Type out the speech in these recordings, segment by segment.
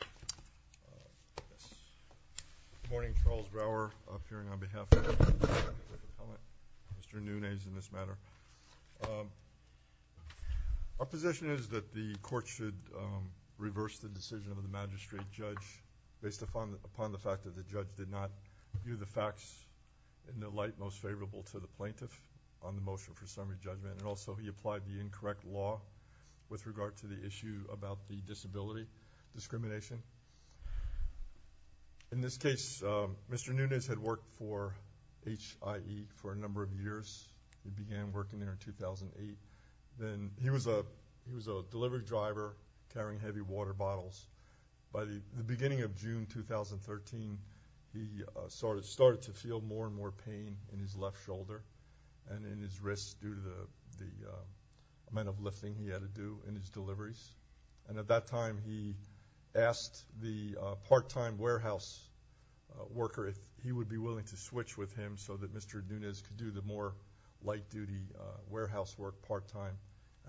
Good morning, Charles Brower, appearing on behalf of Mr. Nunes in this matter. Our position is that the court should reverse the decision of the magistrate judge based upon the fact that the judge did not view the facts in the light most favorable to the plaintiff on the motion for summary judgment, and also he applied the incorrect law with discrimination. In this case, Mr. Nunes had worked for HIE for a number of years. He began working there in 2008. He was a delivery driver carrying heavy water bottles. By the beginning of June 2013, he started to feel more and more pain in his left shoulder and in his part-time warehouse worker, if he would be willing to switch with him so that Mr. Nunes could do the more light-duty warehouse work part-time,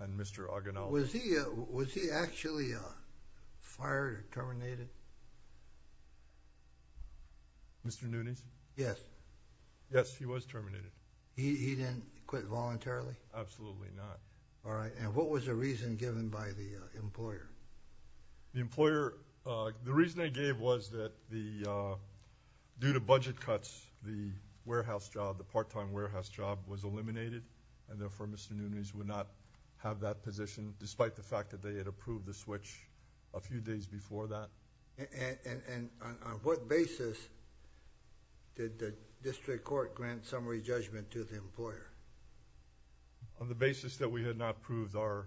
and Mr. Aguinaldo. Was he actually fired or terminated? Mr. Nunes? Yes. Yes, he was terminated. He didn't quit voluntarily? All right, and what was the reason given by the employer? The employer, the reason they gave was that the, due to budget cuts, the warehouse job, the part-time warehouse job was eliminated, and therefore Mr. Nunes would not have that position despite the fact that they had approved the switch a few days before that. And on what basis did the district court grant summary judgment to the employer? On the basis that we had not approved our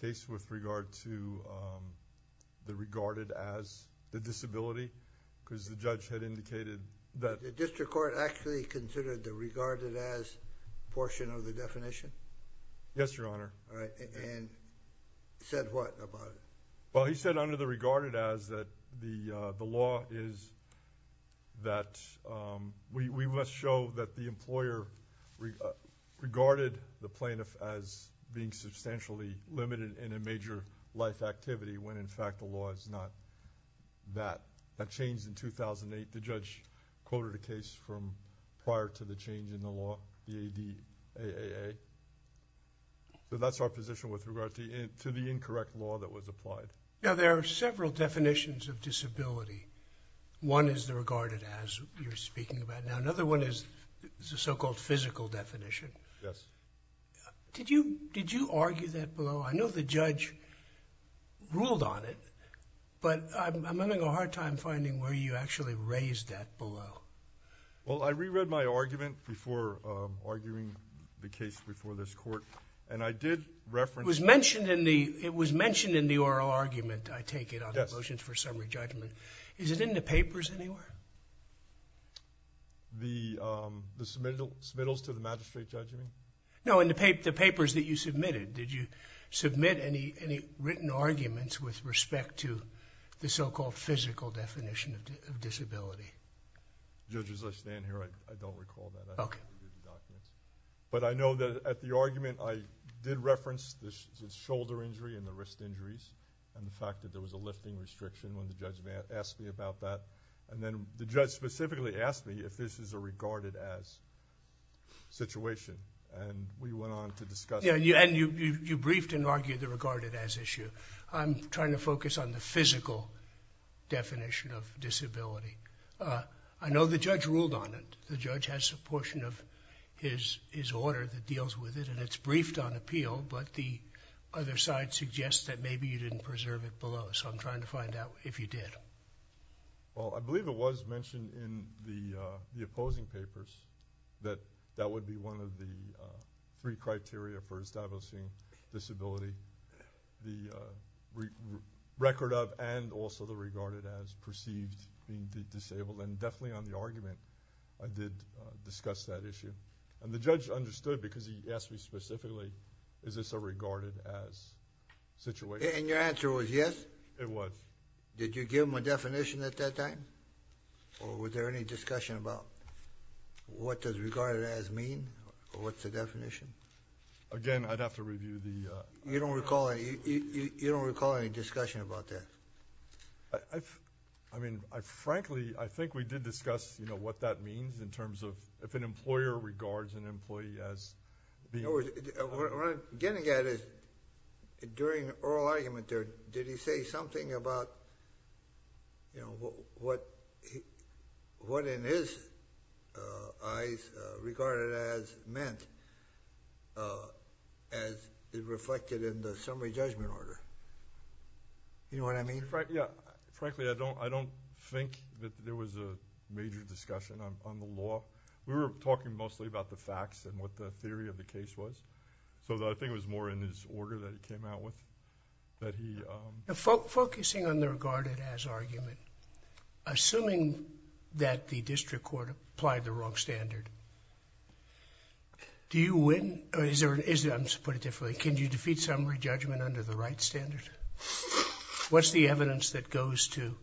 case with regard to the regarded as the disability, because the judge had indicated that... The district court actually considered the regarded as portion of the definition? Yes, Your Honor. All right, and said what about it? Well, he said under the regarded as that the law is that we must show that the employer regarded the plaintiff as being substantially limited in a major life activity when in fact the law is not that. That changed in 2008. The judge quoted a case from prior to the change in the law, the ADAAA. So that's our position with regard to the incorrect law that was applied. Now, there are several definitions of disability. One is the regarded as you're speaking about. Now, another one is the so-called physical definition. Yes. Did you argue that below? I know the judge ruled on it, but I'm having a hard time finding where you actually raised that below. Well, I reread my argument before arguing the case before this court, and I did reference... It was mentioned in the oral argument, I take it, on the motions for summary judgment. Is it in the papers anywhere? The submittals to the magistrate judgment? No, in the papers that you submitted. Did you submit any written arguments with respect to the so-called physical definition of disability? Judge, as I stand here, I don't recall that. Okay. But I know that at the argument, I did reference the shoulder injury and the wrist injuries and the fact that there was a lifting restriction when the judge asked me about that. And then the judge specifically asked me if this is a regarded as situation. And we went on to discuss... And you briefed and argued the regarded as issue. I'm trying to focus on the physical definition of disability. I know the judge ruled on it. The judge has a portion of his order that deals with it, and it's briefed on appeal, but the other side suggests that maybe you didn't preserve it below. So I'm trying to find out if you did. Well, I believe it was mentioned in the opposing papers that that would be one of the three criteria for establishing disability. The record of and also the regarded as perceived to be disabled. And definitely on the argument, I did discuss that issue. And the judge understood because he asked me specifically, is this a regarded as situation? And your answer was yes? It was. Did you give him a definition at that time? Or was there any discussion about what does regarded as mean? Or what's the definition? Again, I'd have to review the... You don't recall any discussion about that? I mean, frankly, I think we did discuss what that means in terms of if an employer regards an employee as... What I'm getting at is during the oral argument there, did he say something about what in his eyes regarded as meant as it reflected in the summary judgment order? You know what I mean? Yeah. Frankly, I don't think that there was a major discussion on the law. We were talking mostly about the facts and what the theory of the case was. So I think it was more in his order that he came out with that he... Focusing on the regarded as argument, assuming that the district court applied the wrong standard, do you win or is there... I'm going to put it differently. Can you defeat summary judgment under the right standard? What's the evidence that goes to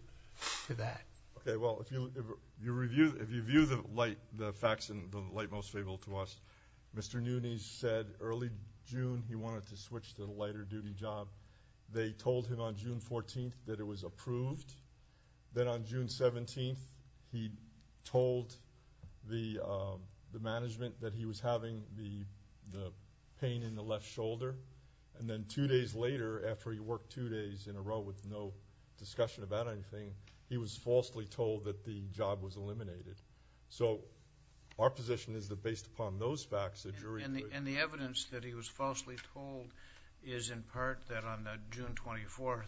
that? Okay. Well, if you view the facts in the light most favorable to us, Mr. Nunes said early June he wanted to switch to the lighter duty job. They told him on June 14th that it was approved. Then on June 17th, he told the management that he was having the pain in the left shoulder. And then two days later, after he worked two days in a row with no discussion about anything, he was falsely told that the job was eliminated. So our position is that based upon those facts, the jury... And the evidence that he was falsely told is in part that on June 24th,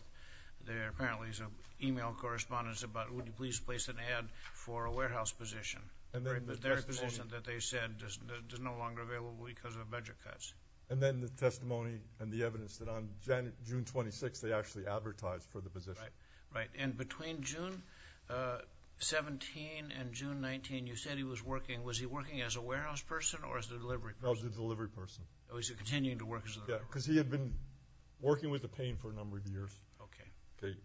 there apparently is an email correspondence about, would you please place an ad for a warehouse position. But their position that they said is no longer available because of budget cuts. And then the testimony and the evidence that on June 26th, they actually advertised for the position. Right. And between June 17th and June 19th, you said he was working. Was he working as a warehouse person or as a delivery person? As a delivery person. Oh, he's continuing to work as a delivery person. Yeah, because he had been working with the pain for a number of years. Okay.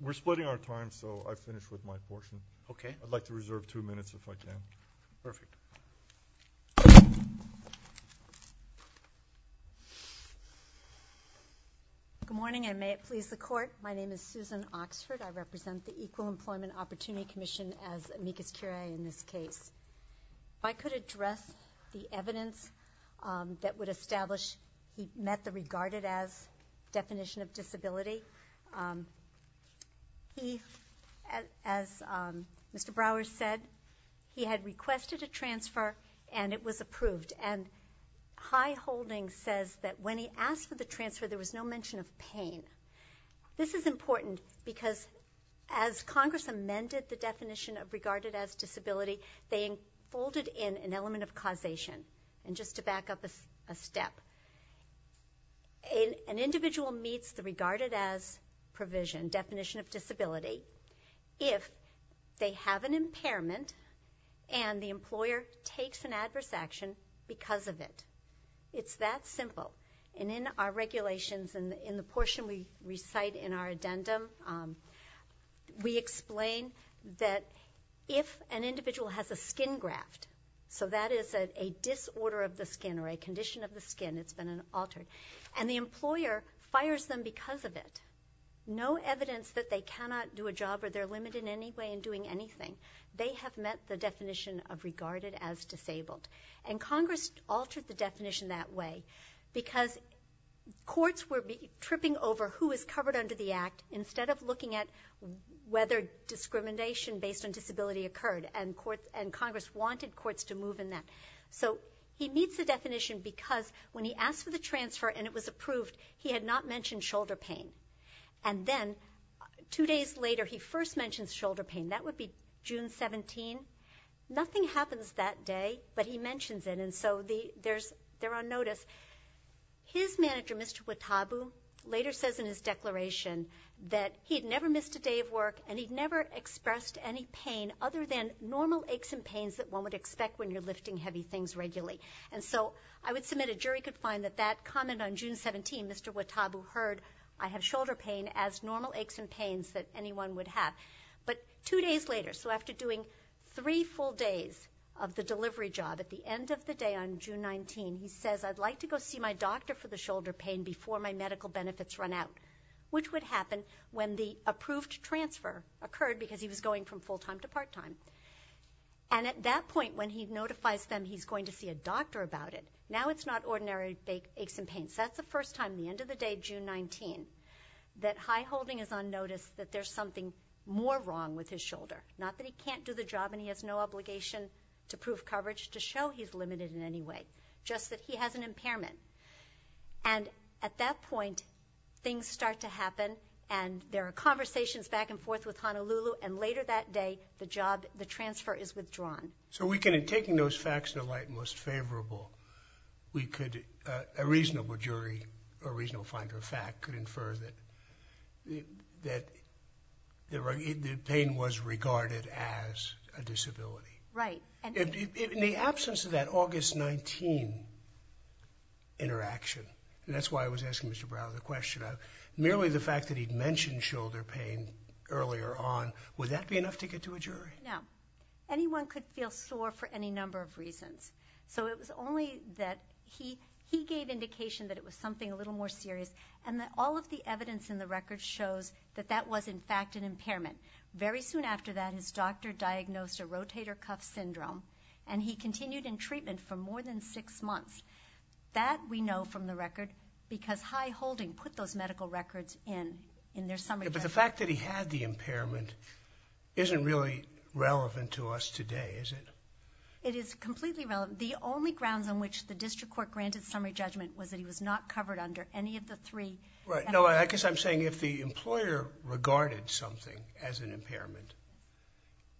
We're splitting our time, so I've finished with my portion. Okay. I'd like to reserve two minutes if I can. Perfect. Good morning, and may it please the Court. My name is Susan Oxford. I represent the Equal Employment Opportunity Commission as amicus curiae in this case. If I could address the evidence that would establish he met the regarded as definition of disability. He, as Mr. Brower said, he had requested a transfer, and it was approved. And High Holding says that when he asked for the transfer, there was no mention of pain. This is important because as Congress amended the definition of regarded as disability, they folded in an element of causation. And just to back up a step, an individual meets the regarded as provision definition of disability if they have an impairment and the employer takes an adverse action because of it. It's that simple. And in our regulations, in the portion we recite in our addendum, we explain that if an individual has a skin graft, so that is a disorder of the skin or a condition of the skin, it's been altered, and the employer fires them because of it, no evidence that they cannot do a job or they're limited in any way in doing anything. They have met the definition of regarded as disabled. And Congress altered the definition that way because courts were tripping over who was covered under the Act instead of looking at whether discrimination based on disability occurred, and Congress wanted courts to move in that. So he meets the definition because when he asked for the transfer and it was approved, he had not mentioned shoulder pain. And then two days later he first mentions shoulder pain. That would be June 17. Nothing happens that day, but he mentions it, and so they're on notice. His manager, Mr. Watabu, later says in his declaration that he had never missed a day of work and he'd never expressed any pain other than normal aches and pains that one would expect when you're lifting heavy things regularly. And so I would submit a jury could find that that comment on June 17, Mr. Watabu heard I have shoulder pain as normal aches and pains that anyone would have. But two days later, so after doing three full days of the delivery job, at the end of the day on June 19, he says I'd like to go see my doctor for the shoulder pain before my medical benefits run out, which would happen when the approved transfer occurred because he was going from full time to part time. And at that point when he notifies them he's going to see a doctor about it, now it's not ordinary aches and pains. That's the first time at the end of the day, June 19, that high holding is on notice that there's something more wrong with his shoulder, not that he can't do the job and he has no obligation to prove coverage to show he's limited in any way, just that he has an impairment. And at that point things start to happen, and there are conversations back and forth with Honolulu, and later that day the transfer is withdrawn. So we can, in taking those facts into light and most favorable, a reasonable jury or a reasonable finder of fact could infer that the pain was regarded as a disability. Right. In the absence of that August 19 interaction, and that's why I was asking Mr. Brown the question, merely the fact that he'd mentioned shoulder pain earlier on, would that be enough to get to a jury? No. Anyone could feel sore for any number of reasons. So it was only that he gave indication that it was something a little more serious, and that all of the evidence in the record shows that that was in fact an impairment. Very soon after that his doctor diagnosed a rotator cuff syndrome, and he continued in treatment for more than six months. That we know from the record because High Holding put those medical records in, in their summary judgment. But the fact that he had the impairment isn't really relevant to us today, is it? It is completely relevant. The only grounds on which the district court granted summary judgment was that he was not covered under any of the three. Right. No, I guess I'm saying if the employer regarded something as an impairment,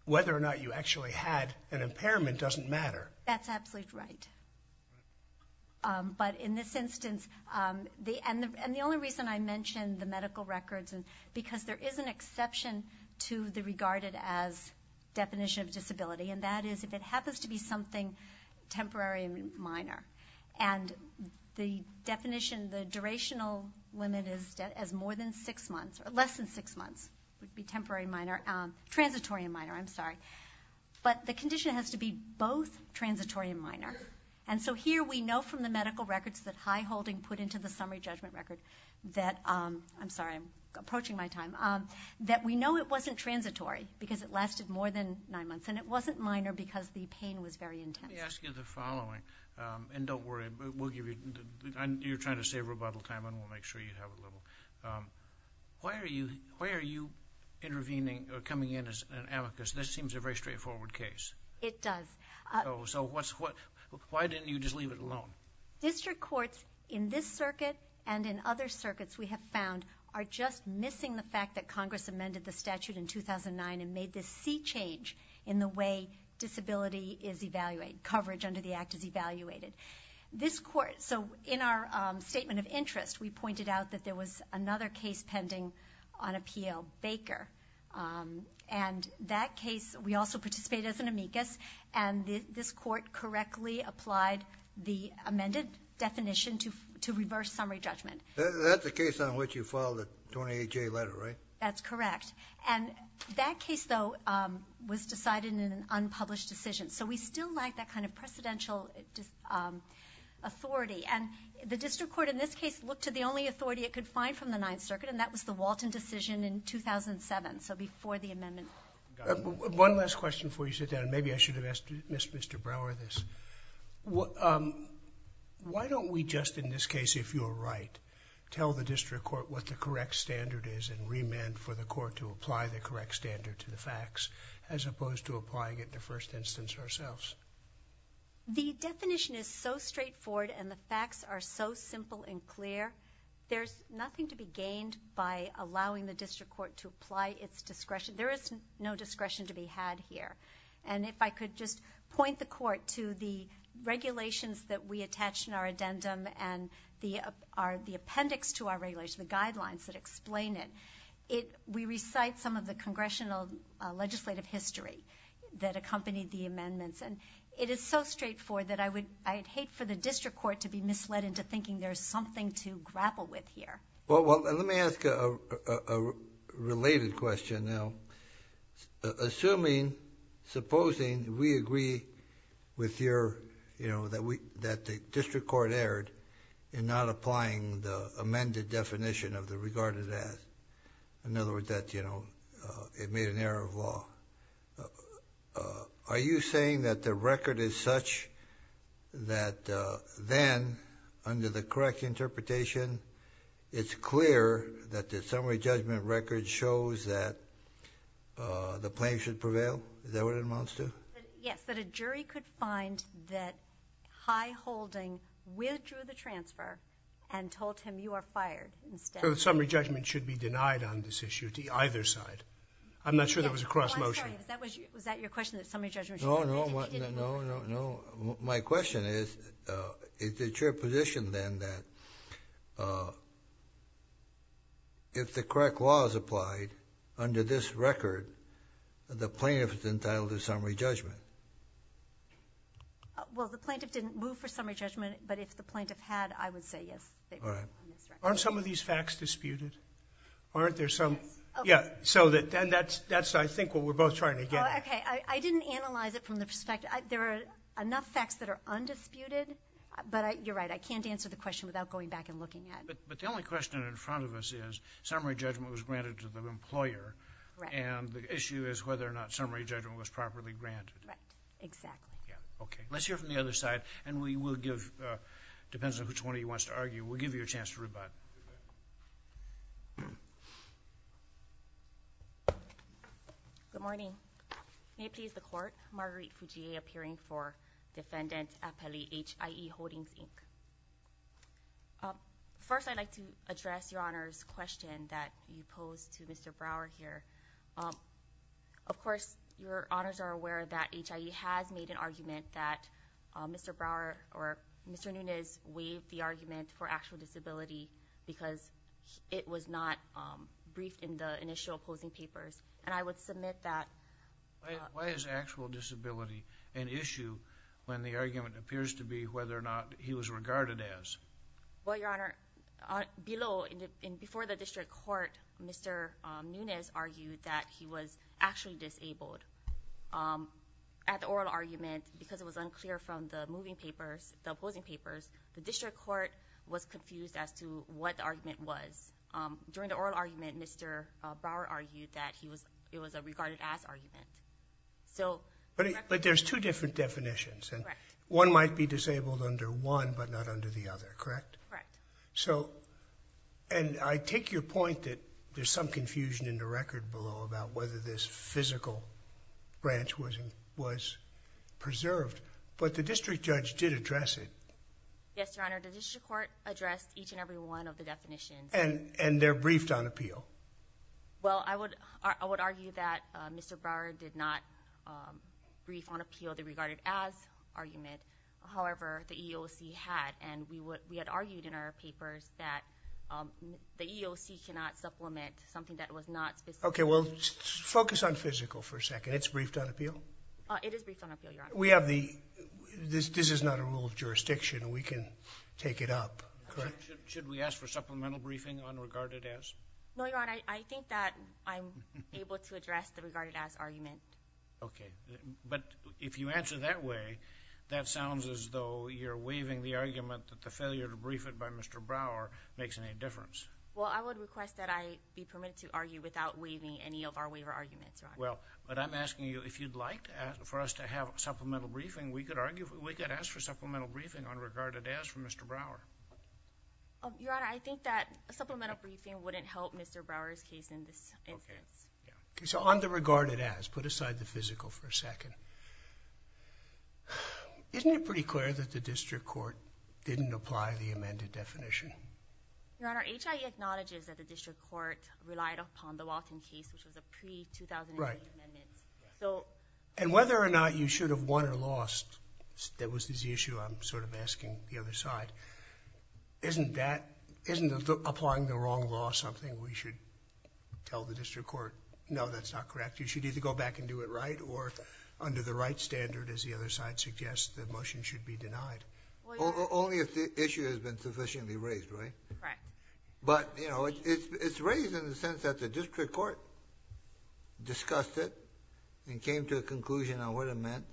whether or not you actually had an impairment doesn't matter. That's absolutely right. But in this instance, and the only reason I mention the medical records, because there is an exception to the regarded as definition of disability, and that is if it happens to be something temporary and minor, and the definition, the durational limit is more than six months, or less than six months, would be temporary and minor, transitory and minor, I'm sorry. But the condition has to be both transitory and minor. And so here we know from the medical records that High Holding put into the summary judgment record that, I'm sorry, I'm approaching my time, that we know it wasn't transitory because it lasted more than nine months, and it wasn't minor because the pain was very intense. Let me ask you the following, and don't worry, we'll give you, you're trying to save rebuttal time and we'll make sure you have a little. Why are you intervening or coming in as an amicus? This seems a very straightforward case. It does. So why didn't you just leave it alone? District courts in this circuit and in other circuits, we have found, are just missing the fact that Congress amended the statute in 2009 and made this sea change in the way disability is evaluated, coverage under the Act is evaluated. So in our statement of interest, we pointed out that there was another case pending on appeal, Baker. And that case, we also participated as an amicus, and this court correctly applied the amended definition to reverse summary judgment. That's the case on which you filed the 28-J letter, right? That's correct. And that case, though, was decided in an unpublished decision. So we still lack that kind of precedential authority. And the district court in this case looked to the only authority it could find from the Ninth Circuit, and that was the Walton decision in 2007, so before the amendment. One last question before you sit down. Maybe I should have asked Mr. Brower this. Why don't we just, in this case, if you're right, tell the district court what the correct standard is and remand for the court to apply the correct standard to the facts as opposed to applying it in the first instance ourselves? There's nothing to be gained by allowing the district court to apply its discretion. There is no discretion to be had here. And if I could just point the court to the regulations that we attached in our addendum and the appendix to our regulation, the guidelines that explain it. We recite some of the congressional legislative history that accompanied the amendments, and it is so straightforward that I'd hate for the district court to be misled into thinking there's something to grapple with here. Well, let me ask a related question now. Assuming, supposing, we agree with your, you know, that the district court erred in not applying the amended definition of the regarded as. In other words, that, you know, it made an error of law. Are you saying that the record is such that then, under the correct interpretation, it's clear that the summary judgment record shows that the plaintiff should prevail? Is that what it amounts to? Yes, that a jury could find that high holding withdrew the transfer and told him you are fired instead. So the summary judgment should be denied on this issue to either side. I'm not sure that was a cross-motion. Was that your question, that summary judgment should be denied? No, no, no. My question is, is it your position then that if the correct law is applied under this record, the plaintiff is entitled to summary judgment? Well, the plaintiff didn't move for summary judgment, but if the plaintiff had, I would say yes. Aren't some of these facts disputed? Aren't there some? Yes. So then that's, I think, what we're both trying to get at. Okay. I didn't analyze it from the perspective. There are enough facts that are undisputed, but you're right. I can't answer the question without going back and looking at it. But the only question in front of us is summary judgment was granted to the employer, and the issue is whether or not summary judgment was properly granted. Right, exactly. Okay. Let's hear from the other side, and we will give, depends on which one of you wants to argue, we'll give you a chance to rebut. Good morning. May it please the Court, Marguerite Fujie, appearing for Defendant Appellee H.I.E. Holdings, Inc. First, I'd like to address Your Honor's question that you posed to Mr. Brower here. Of course, Your Honors are aware that H.I.E. has made an argument that Mr. Brower or Mr. Nunez waived the argument for actual disability because it was not briefed in the initial opposing papers. And I would submit that. Why is actual disability an issue when the argument appears to be whether or not he was regarded as? Well, Your Honor, below, before the district court, Mr. Nunez argued that he was actually disabled. At the oral argument, because it was unclear from the moving papers, the opposing papers, the district court was confused as to what the argument was. During the oral argument, Mr. Brower argued that it was a regarded as argument. But there's two different definitions. One might be disabled under one, but not under the other, correct? Correct. So, and I take your point that there's some confusion in the record below about whether this physical branch was preserved. But the district judge did address it. Yes, Your Honor. The district court addressed each and every one of the definitions. And they're briefed on appeal. Well, I would argue that Mr. Brower did not brief on appeal the regarded as argument. However, the EEOC had. And we had argued in our papers that the EEOC cannot supplement something that was not specifically. Okay, well, focus on physical for a second. It's briefed on appeal? It is briefed on appeal, Your Honor. We have the, this is not a rule of jurisdiction. We can take it up. Should we ask for supplemental briefing on regarded as? No, Your Honor. I think that I'm able to address the regarded as argument. Okay. But if you answer that way, that sounds as though you're waiving the argument that the failure to brief it by Mr. Brower makes any difference. Well, I would request that I be permitted to argue without waiving any of our waiver arguments, Your Honor. Well, but I'm asking you if you'd like for us to have supplemental briefing, we could argue, we could ask for supplemental briefing on regarded as from Mr. Brower. Your Honor, I think that supplemental briefing wouldn't help Mr. Brower's case in this instance. Okay. So on the regarded as, put aside the physical for a second. Isn't it pretty clear that the district court didn't apply the amended definition? Your Honor, HIE acknowledges that the district court relied upon the Walton case, which was a pre-2008 amendment. Right. And whether or not you should have won or lost, that was the issue I'm sort of asking the other side. Isn't that, isn't applying the wrong law something we should tell the district court? No, that's not correct. You should either go back and do it right or under the right standard, as the other side suggests, the motion should be denied. Only if the issue has been sufficiently raised, right? Right. But, you know, it's raised in the sense that the district court discussed it and came to a conclusion on what it meant.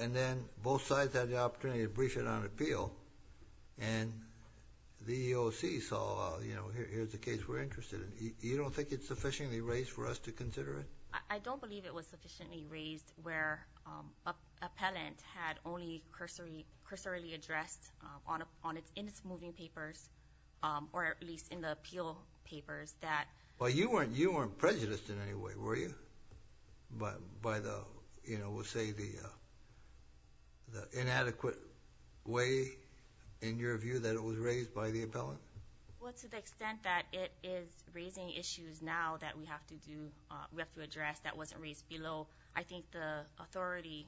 And then both sides had the opportunity to brief it on appeal. And the EEOC saw, you know, here's the case we're interested in. You don't think it's sufficiently raised for us to consider it? I don't believe it was sufficiently raised where appellant had only cursorily addressed in its moving papers, or at least in the appeal papers, that... Well, you weren't prejudiced in any way, were you? By the, you know, we'll say the inadequate way, in your view, that it was raised by the appellant? Well, to the extent that it is raising issues now that we have to address that wasn't raised below, I think the authority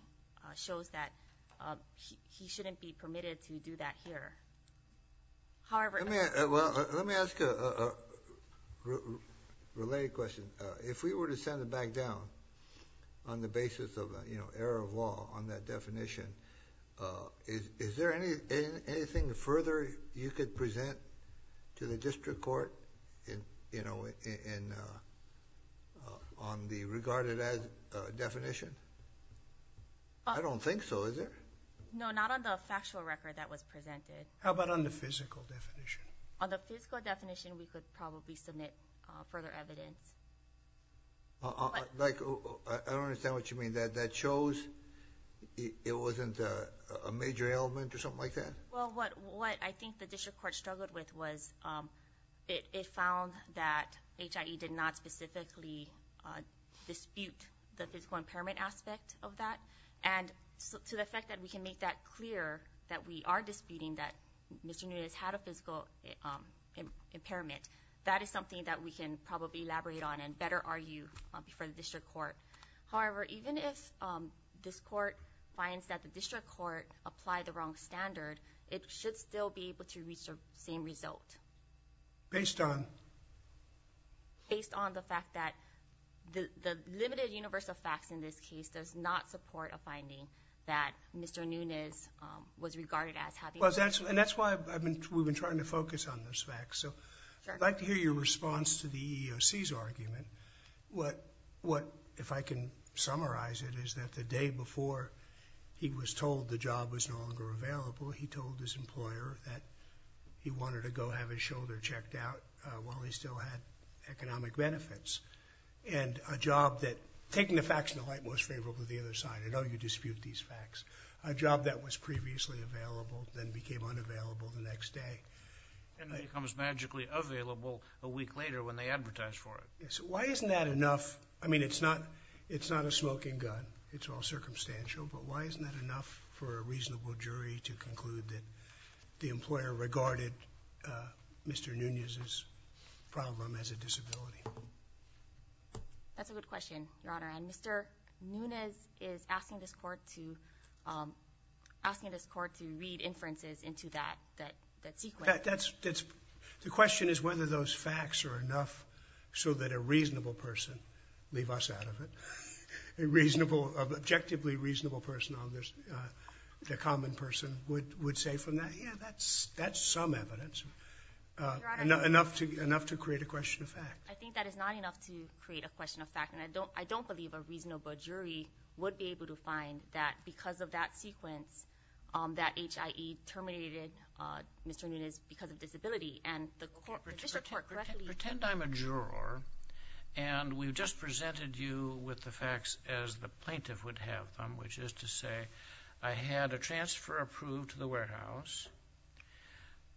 shows that he shouldn't be permitted to do that here. However... Let me ask a related question. If we were to send it back down on the basis of, you know, error of law on that definition, is there anything further you could present to the district court, you know, on the regarded as definition? I don't think so, is there? No, not on the factual record that was presented. How about on the physical definition? On the physical definition, we could probably submit further evidence. I don't understand what you mean. That shows it wasn't a major element or something like that? Well, what I think the district court struggled with was it found that HIE did not specifically dispute the physical impairment aspect of that. And to the effect that we can make that clear that we are disputing that Mr. Nunez had a physical impairment, that is something that we can probably elaborate on and better argue before the district court. However, even if this court finds that the district court applied the wrong standard, it should still be able to reach the same result. Based on? Based on the fact that the limited universe of facts in this case does not support a finding that Mr. Nunez was regarded as having a physical impairment. And that's why we've been trying to focus on those facts. I'd like to hear your response to the EEOC's argument. What, if I can summarize it, is that the day before he was told the job was no longer available, he told his employer that he wanted to go have his shoulder checked out while he still had economic benefits. And a job that, taking the facts in the light, most favorable to the other side. I know you dispute these facts. A job that was previously available then became unavailable the next day. And then it becomes magically available a week later when they advertise for it. So why isn't that enough? I mean, it's not a smoking gun. It's all circumstantial. But why isn't that enough for a reasonable jury to conclude that the employer regarded Mr. Nunez's problem as a disability? That's a good question, Your Honor. And Mr. Nunez is asking this court to read inferences into that sequence. The question is whether those facts are enough so that a reasonable person, leave us out of it, an objectively reasonable person, a common person, would say from that, yeah, that's some evidence, enough to create a question of fact. I think that is not enough to create a question of fact. And I don't believe a reasonable jury would be able to find that because of that sequence, that HIE terminated Mr. Nunez because of disability. And the district court correctly- Pretend I'm a juror, and we've just presented you with the facts as the plaintiff would have them, which is to say I had a transfer approved to the warehouse.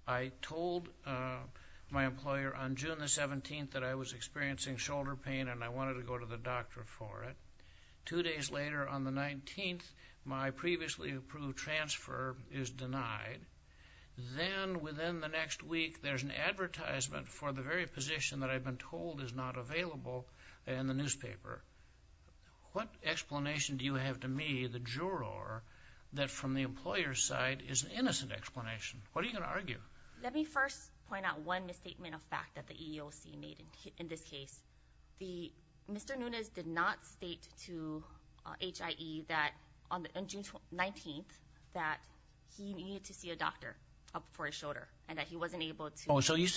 I told my employer on June the 17th that I was experiencing shoulder pain and I wanted to go to the doctor for it. Two days later on the 19th, my previously approved transfer is denied. Then within the next week, there's an advertisement for the very position that I've been told is not available in the newspaper. What explanation do you have to me, the juror, that from the employer's side is an innocent explanation? What are you going to argue? Let me first point out one misstatement of fact that the EEOC made in this case. Mr. Nunez did not state to HIE that on June 19th that he needed to see a doctor for his shoulder and that he wasn't able to- So you're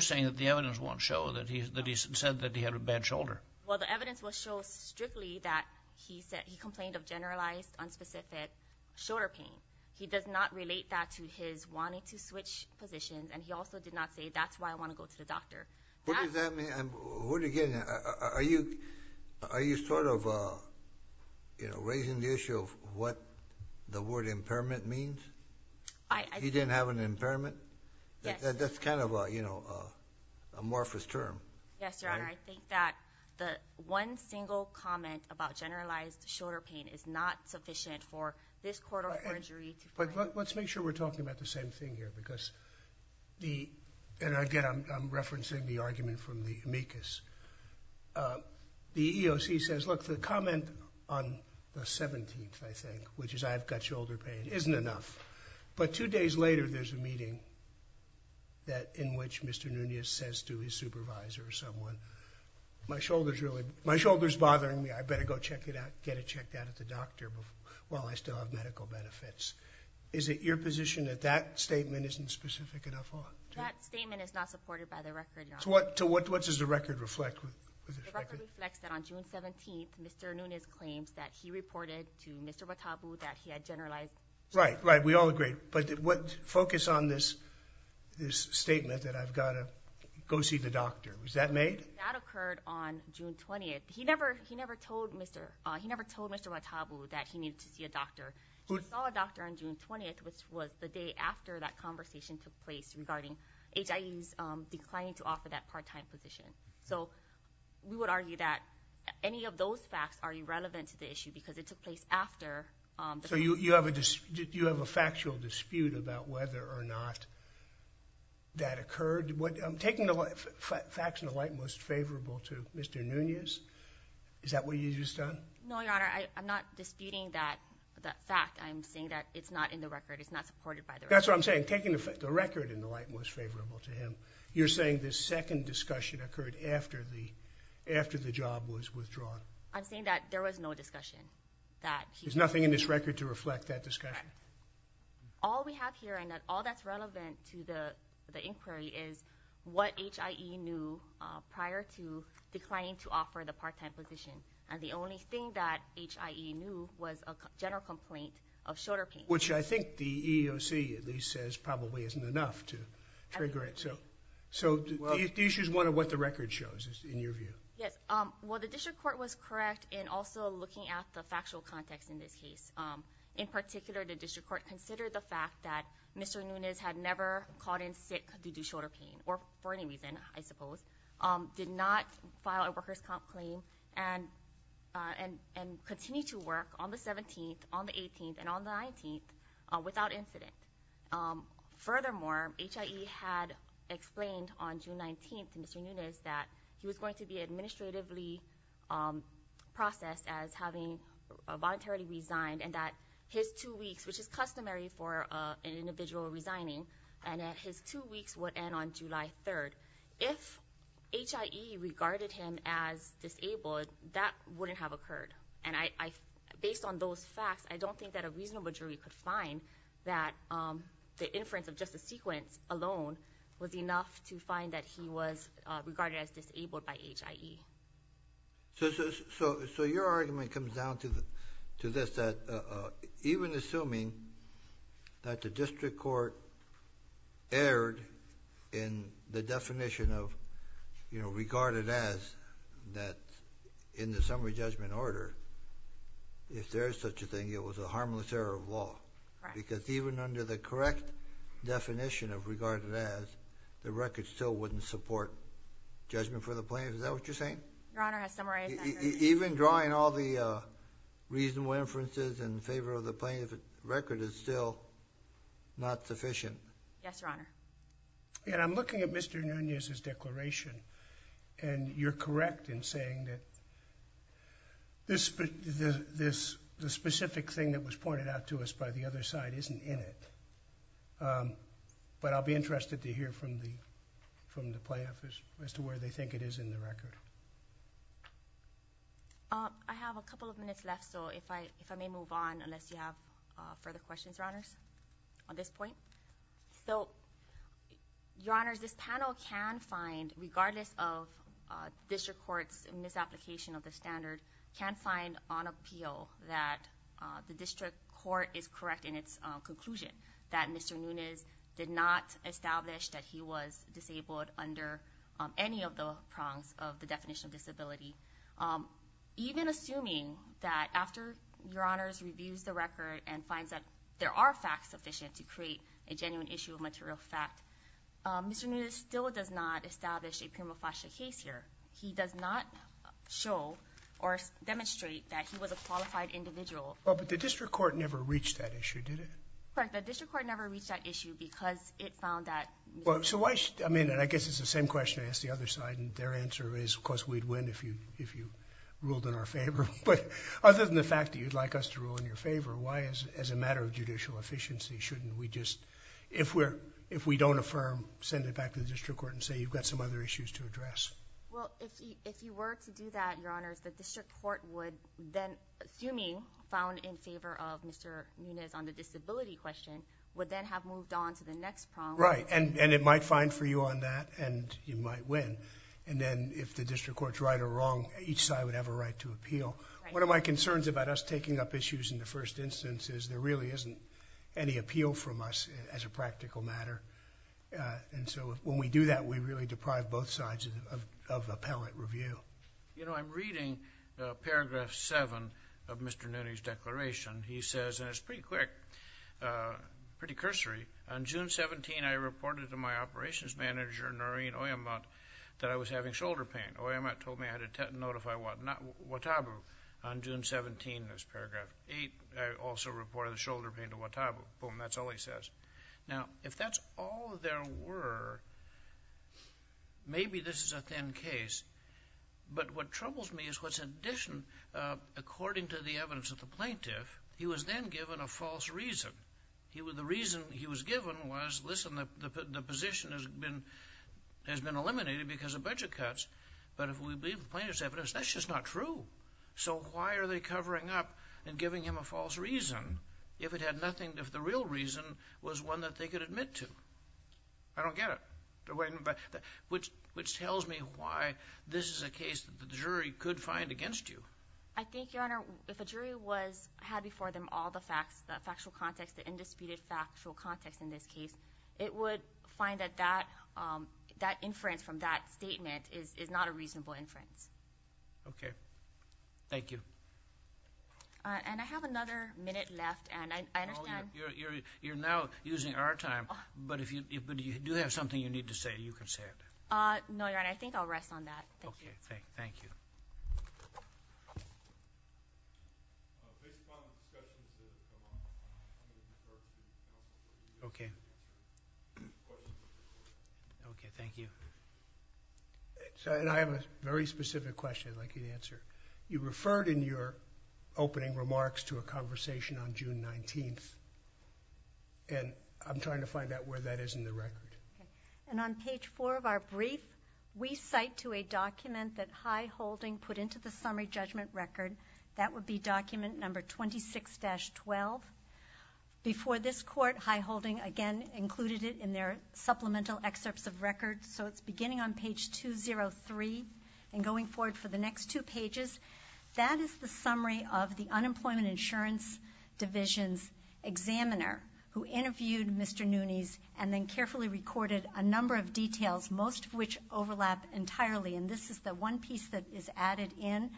saying that the evidence won't show that he said that he had a bad shoulder? Well, the evidence will show strictly that he complained of generalized, unspecific shoulder pain. He does not relate that to his wanting to switch positions, and he also did not say that's why I want to go to the doctor. What does that mean? Are you sort of raising the issue of what the word impairment means? He didn't have an impairment? Yes. That's kind of an amorphous term. Yes, Your Honor. I think that the one single comment about generalized shoulder pain is not sufficient for this court of orgery to- Let's make sure we're talking about the same thing here because the- And again, I'm referencing the argument from the amicus. The EEOC says, look, the comment on the 17th, I think, which is I've got shoulder pain, isn't enough. But two days later, there's a meeting in which Mr. Nunez says to his supervisor or someone, my shoulder's bothering me, I better go check it out, get it checked out at the doctor while I still have medical benefits. Is it your position that that statement isn't specific enough? That statement is not supported by the record, Your Honor. So what does the record reflect? The record reflects that on June 17th, Mr. Nunez claims that he reported to Mr. Watabu that he had generalized- Right, right, we all agree. But focus on this statement that I've got to go see the doctor. Was that made? That occurred on June 20th. He never told Mr. Watabu that he needed to see a doctor. He saw a doctor on June 20th, which was the day after that conversation took place regarding HIE's declining to offer that part-time position. So we would argue that any of those facts are irrelevant to the issue because it took place after- So you have a factual dispute about whether or not that occurred? Taking the facts in the light most favorable to Mr. Nunez, is that what you've just done? No, Your Honor, I'm not disputing that fact. I'm saying that it's not in the record, it's not supported by the record. That's what I'm saying, taking the record in the light most favorable to him, you're saying the second discussion occurred after the job was withdrawn? I'm saying that there was no discussion that he- There's nothing in this record to reflect that discussion? All we have here and all that's relevant to the inquiry is what HIE knew prior to declining to offer the part-time position, and the only thing that HIE knew was a general complaint of shoulder pain. Which I think the EEOC at least says probably isn't enough to trigger it. So the issue is one of what the record shows, in your view. Yes, well the district court was correct in also looking at the factual context in this case. In particular, the district court considered the fact that Mr. Nunez had never called in sick due to shoulder pain, or for any reason, I suppose, did not file a worker's comp claim, and continued to work on the 17th, on the 18th, and on the 19th without incident. Furthermore, HIE had explained on June 19th to Mr. Nunez that he was going to be administratively processed as having voluntarily resigned, and that his two weeks, which is customary for an individual resigning, and that his two weeks would end on July 3rd. If HIE regarded him as disabled, that wouldn't have occurred. And based on those facts, I don't think that a reasonable jury could find that the inference of just the sequence alone was enough to find that he was regarded as disabled by HIE. So your argument comes down to this, that even assuming that the district court erred in the definition of regarded as, that in the summary judgment order, if there is such a thing, it was a harmless error of law. Because even under the correct definition of regarded as, the record still wouldn't support judgment for the plaintiff. Is that what you're saying? Your Honor, a summary judgment. Even drawing all the reasonable inferences in favor of the plaintiff's record is still not sufficient. Yes, Your Honor. And I'm looking at Mr. Nunez's declaration, and you're correct in saying that this, the specific thing that was pointed out to us by the other side isn't in it. But I'll be interested to hear from the plaintiff as to where they think it is in the record. I have a couple of minutes left, so if I may move on unless you have further questions, Your Honors, on this point. So, Your Honors, this panel can find, regardless of district court's misapplication of the standard, can find on appeal that the district court is correct in its conclusion. That Mr. Nunez did not establish that he was disabled under any of the prongs of the definition of disability. Even assuming that after Your Honors reviews the record and finds that there are facts sufficient to create a genuine issue of material fact, Mr. Nunez still does not establish a prima facie case here. He does not show or demonstrate that he was a qualified individual. Oh, but the district court never reached that issue, did it? Correct, the district court never reached that issue because it found that... Well, so why... I mean, and I guess it's the same question I asked the other side, and their answer is, of course, we'd win if you ruled in our favor. But other than the fact that you'd like us to rule in your favor, why as a matter of judicial efficiency shouldn't we just... if we don't affirm, send it back to the district court and say you've got some other issues to address? Well, if you were to do that, Your Honors, the district court would then, assuming found in favor of Mr. Nunez on the disability question, would then have moved on to the next prong... Right, and it might find for you on that, and you might win. And then if the district court's right or wrong, each side would have a right to appeal. One of my concerns about us taking up issues in the first instance is there really isn't any appeal from us as a practical matter. And so when we do that, we really deprive both sides of appellate review. You know, I'm reading paragraph 7 of Mr. Nunez's declaration. He says, and it's pretty quick, pretty cursory, On June 17, I reported to my operations manager, Noreen Oyemut, that I was having shoulder pain. Oyemut told me I had to notify Wataubu. On June 17, there's paragraph 8, I also reported the shoulder pain to Wataubu. Boom, that's all he says. Now, if that's all there were, maybe this is a thin case. But what troubles me is what's in addition, according to the evidence of the plaintiff, he was then given a false reason. The reason he was given was, listen, the position has been eliminated because of budget cuts. But if we believe the plaintiff's evidence, that's just not true. So why are they covering up and giving him a false reason? If it had nothing, if the real reason was one that they could admit to. I don't get it. Which tells me why this is a case that the jury could find against you. I think, Your Honor, if a jury had before them all the facts, the factual context, the indisputed factual context in this case, it would find that that inference from that statement is not a reasonable inference. Okay. Thank you. And I have another minute left, and I understand. You're now using our time, but if you do have something you need to say, you can say it. No, Your Honor, I think I'll rest on that. Thank you. Okay. Thank you. Okay. Okay. Thank you. I have a very specific question I'd like you to answer. You referred in your opening remarks to a conversation on June 19th, and I'm trying to find out where that is in the record. And on page 4 of our brief, we cite to a document that High Holding put into the summary judgment record. That would be document number 26-12. Before this court, High Holding, again, included it in their supplemental excerpts of records, so it's beginning on page 203 and going forward for the next two pages. That is the summary of the Unemployment Insurance Division's examiner, who interviewed Mr. Nunes and then carefully recorded a number of details, most of which overlap entirely. And this is the one piece that is added in.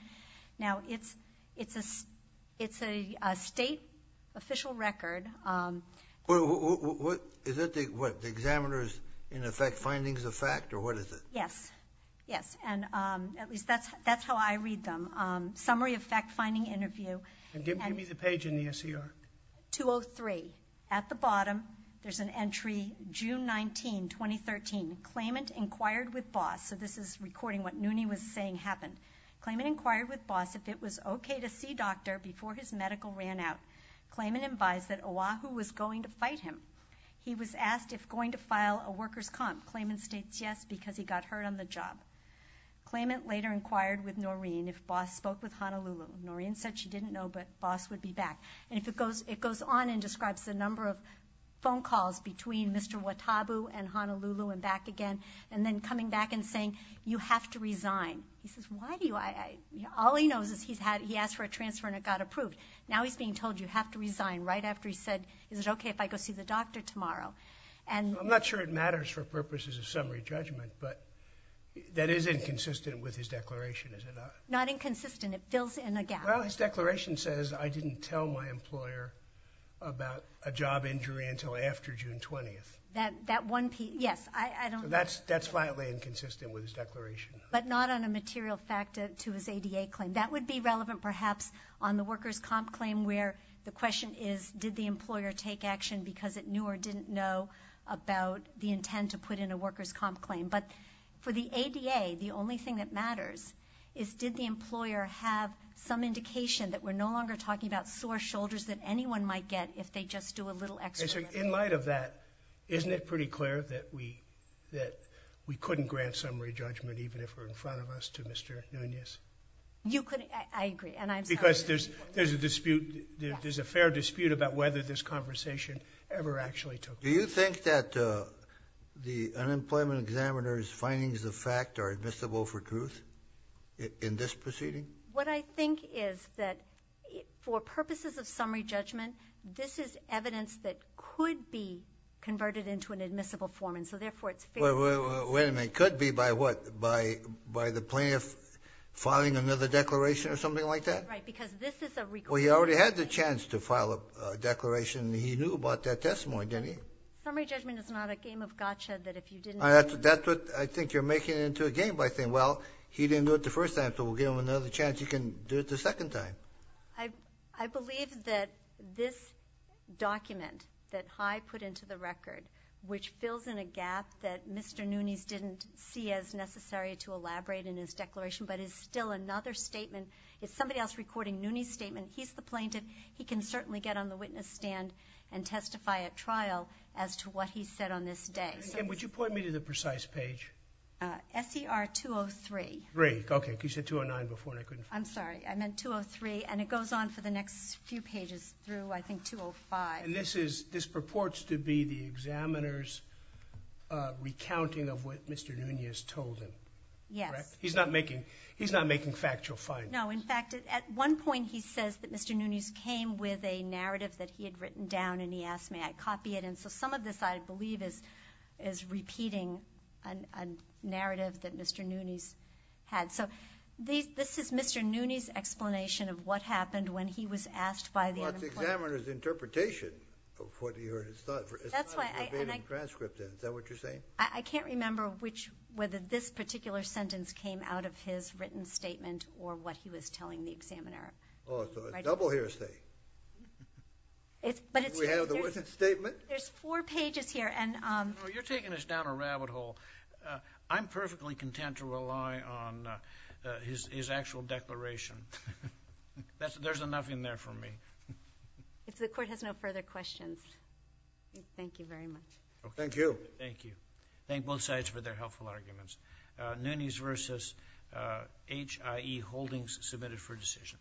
Now, it's a state official record. Is that the examiner's, in effect, findings of fact, or what is it? Yes. Yes. At least that's how I read them. Summary of fact-finding interview. Give me the page in the S.E.R. 203. At the bottom, there's an entry, June 19, 2013. Claimant inquired with boss. So this is recording what Nunes was saying happened. Claimant inquired with boss if it was okay to see doctor before his medical ran out. Claimant advised that Oahu was going to fight him. He was asked if going to file a worker's comp. Claimant states yes because he got hurt on the job. Claimant later inquired with Noreen if boss spoke with Honolulu. Noreen said she didn't know, but boss would be back. And it goes on and describes the number of phone calls between Mr. Watabu and Honolulu and back again, and then coming back and saying, you have to resign. He says, why do I? All he knows is he asked for a transfer and it got approved. Now he's being told you have to resign right after he said, is it okay if I go see the doctor tomorrow? I'm not sure it matters for purposes of summary judgment, but that is inconsistent with his declaration, is it not? Not inconsistent. It fills in a gap. Well, his declaration says I didn't tell my employer about a job injury until after June 20th. That one piece, yes. That's slightly inconsistent with his declaration. But not on a material fact to his ADA claim. That would be relevant perhaps on the workers' comp claim where the question is, did the employer take action because it knew or didn't know about the intent to put in a workers' comp claim. But for the ADA, the only thing that matters is, did the employer have some indication that we're no longer talking about sore shoulders that anyone might get if they just do a little experiment? In light of that, isn't it pretty clear that we couldn't grant summary judgment even if it were in front of us to Mr. Nunez? I agree, and I'm sorry. Because there's a dispute. There's a fair dispute about whether this conversation ever actually took place. Do you think that the unemployment examiner's findings of fact are admissible for truth in this proceeding? What I think is that for purposes of summary judgment, this is evidence that could be converted into an admissible form, and so therefore it's fair. Wait a minute. It could be by what? By the plaintiff filing another declaration or something like that? Right, because this is a request. Well, he already had the chance to file a declaration. He knew about that testimony, didn't he? Summary judgment is not a game of gotcha that if you didn't do it. That's what I think you're making into a game by saying, well, he didn't do it the first time, so we'll give him another chance. He can do it the second time. I believe that this document that Heye put into the record, which fills in a gap that Mr. Nunes didn't see as necessary to elaborate in his declaration, but is still another statement. If somebody else is recording Nunes' statement, he's the plaintiff. He can certainly get on the witness stand and testify at trial as to what he said on this day. Again, would you point me to the precise page? SER 203. Great. Okay, because you said 209 before and I couldn't find it. I'm sorry. I meant 203, and it goes on for the next few pages through, I think, 205. And this purports to be the examiner's recounting of what Mr. Nunes told him, correct? Yes. He's not making factual findings. No. In fact, at one point he says that Mr. Nunes came with a narrative that he had written down and he asked, may I copy it? And so some of this, I believe, is repeating a narrative that Mr. Nunes had. So this is Mr. Nunes' explanation of what happened when he was asked by the unemployed. Well, it's the examiner's interpretation of what he heard his thought. It's not a debated transcript, then. Is that what you're saying? I can't remember whether this particular sentence came out of his written statement or what he was telling the examiner. Oh, so a double hearsay. We have the witness statement. There's four pages here. You're taking us down a rabbit hole. I'm perfectly content to rely on his actual declaration. There's enough in there for me. If the Court has no further questions, thank you very much. Thank you. Thank you. Thank both sides for their helpful arguments. Nunes v. HIE Holdings, submitted for decision.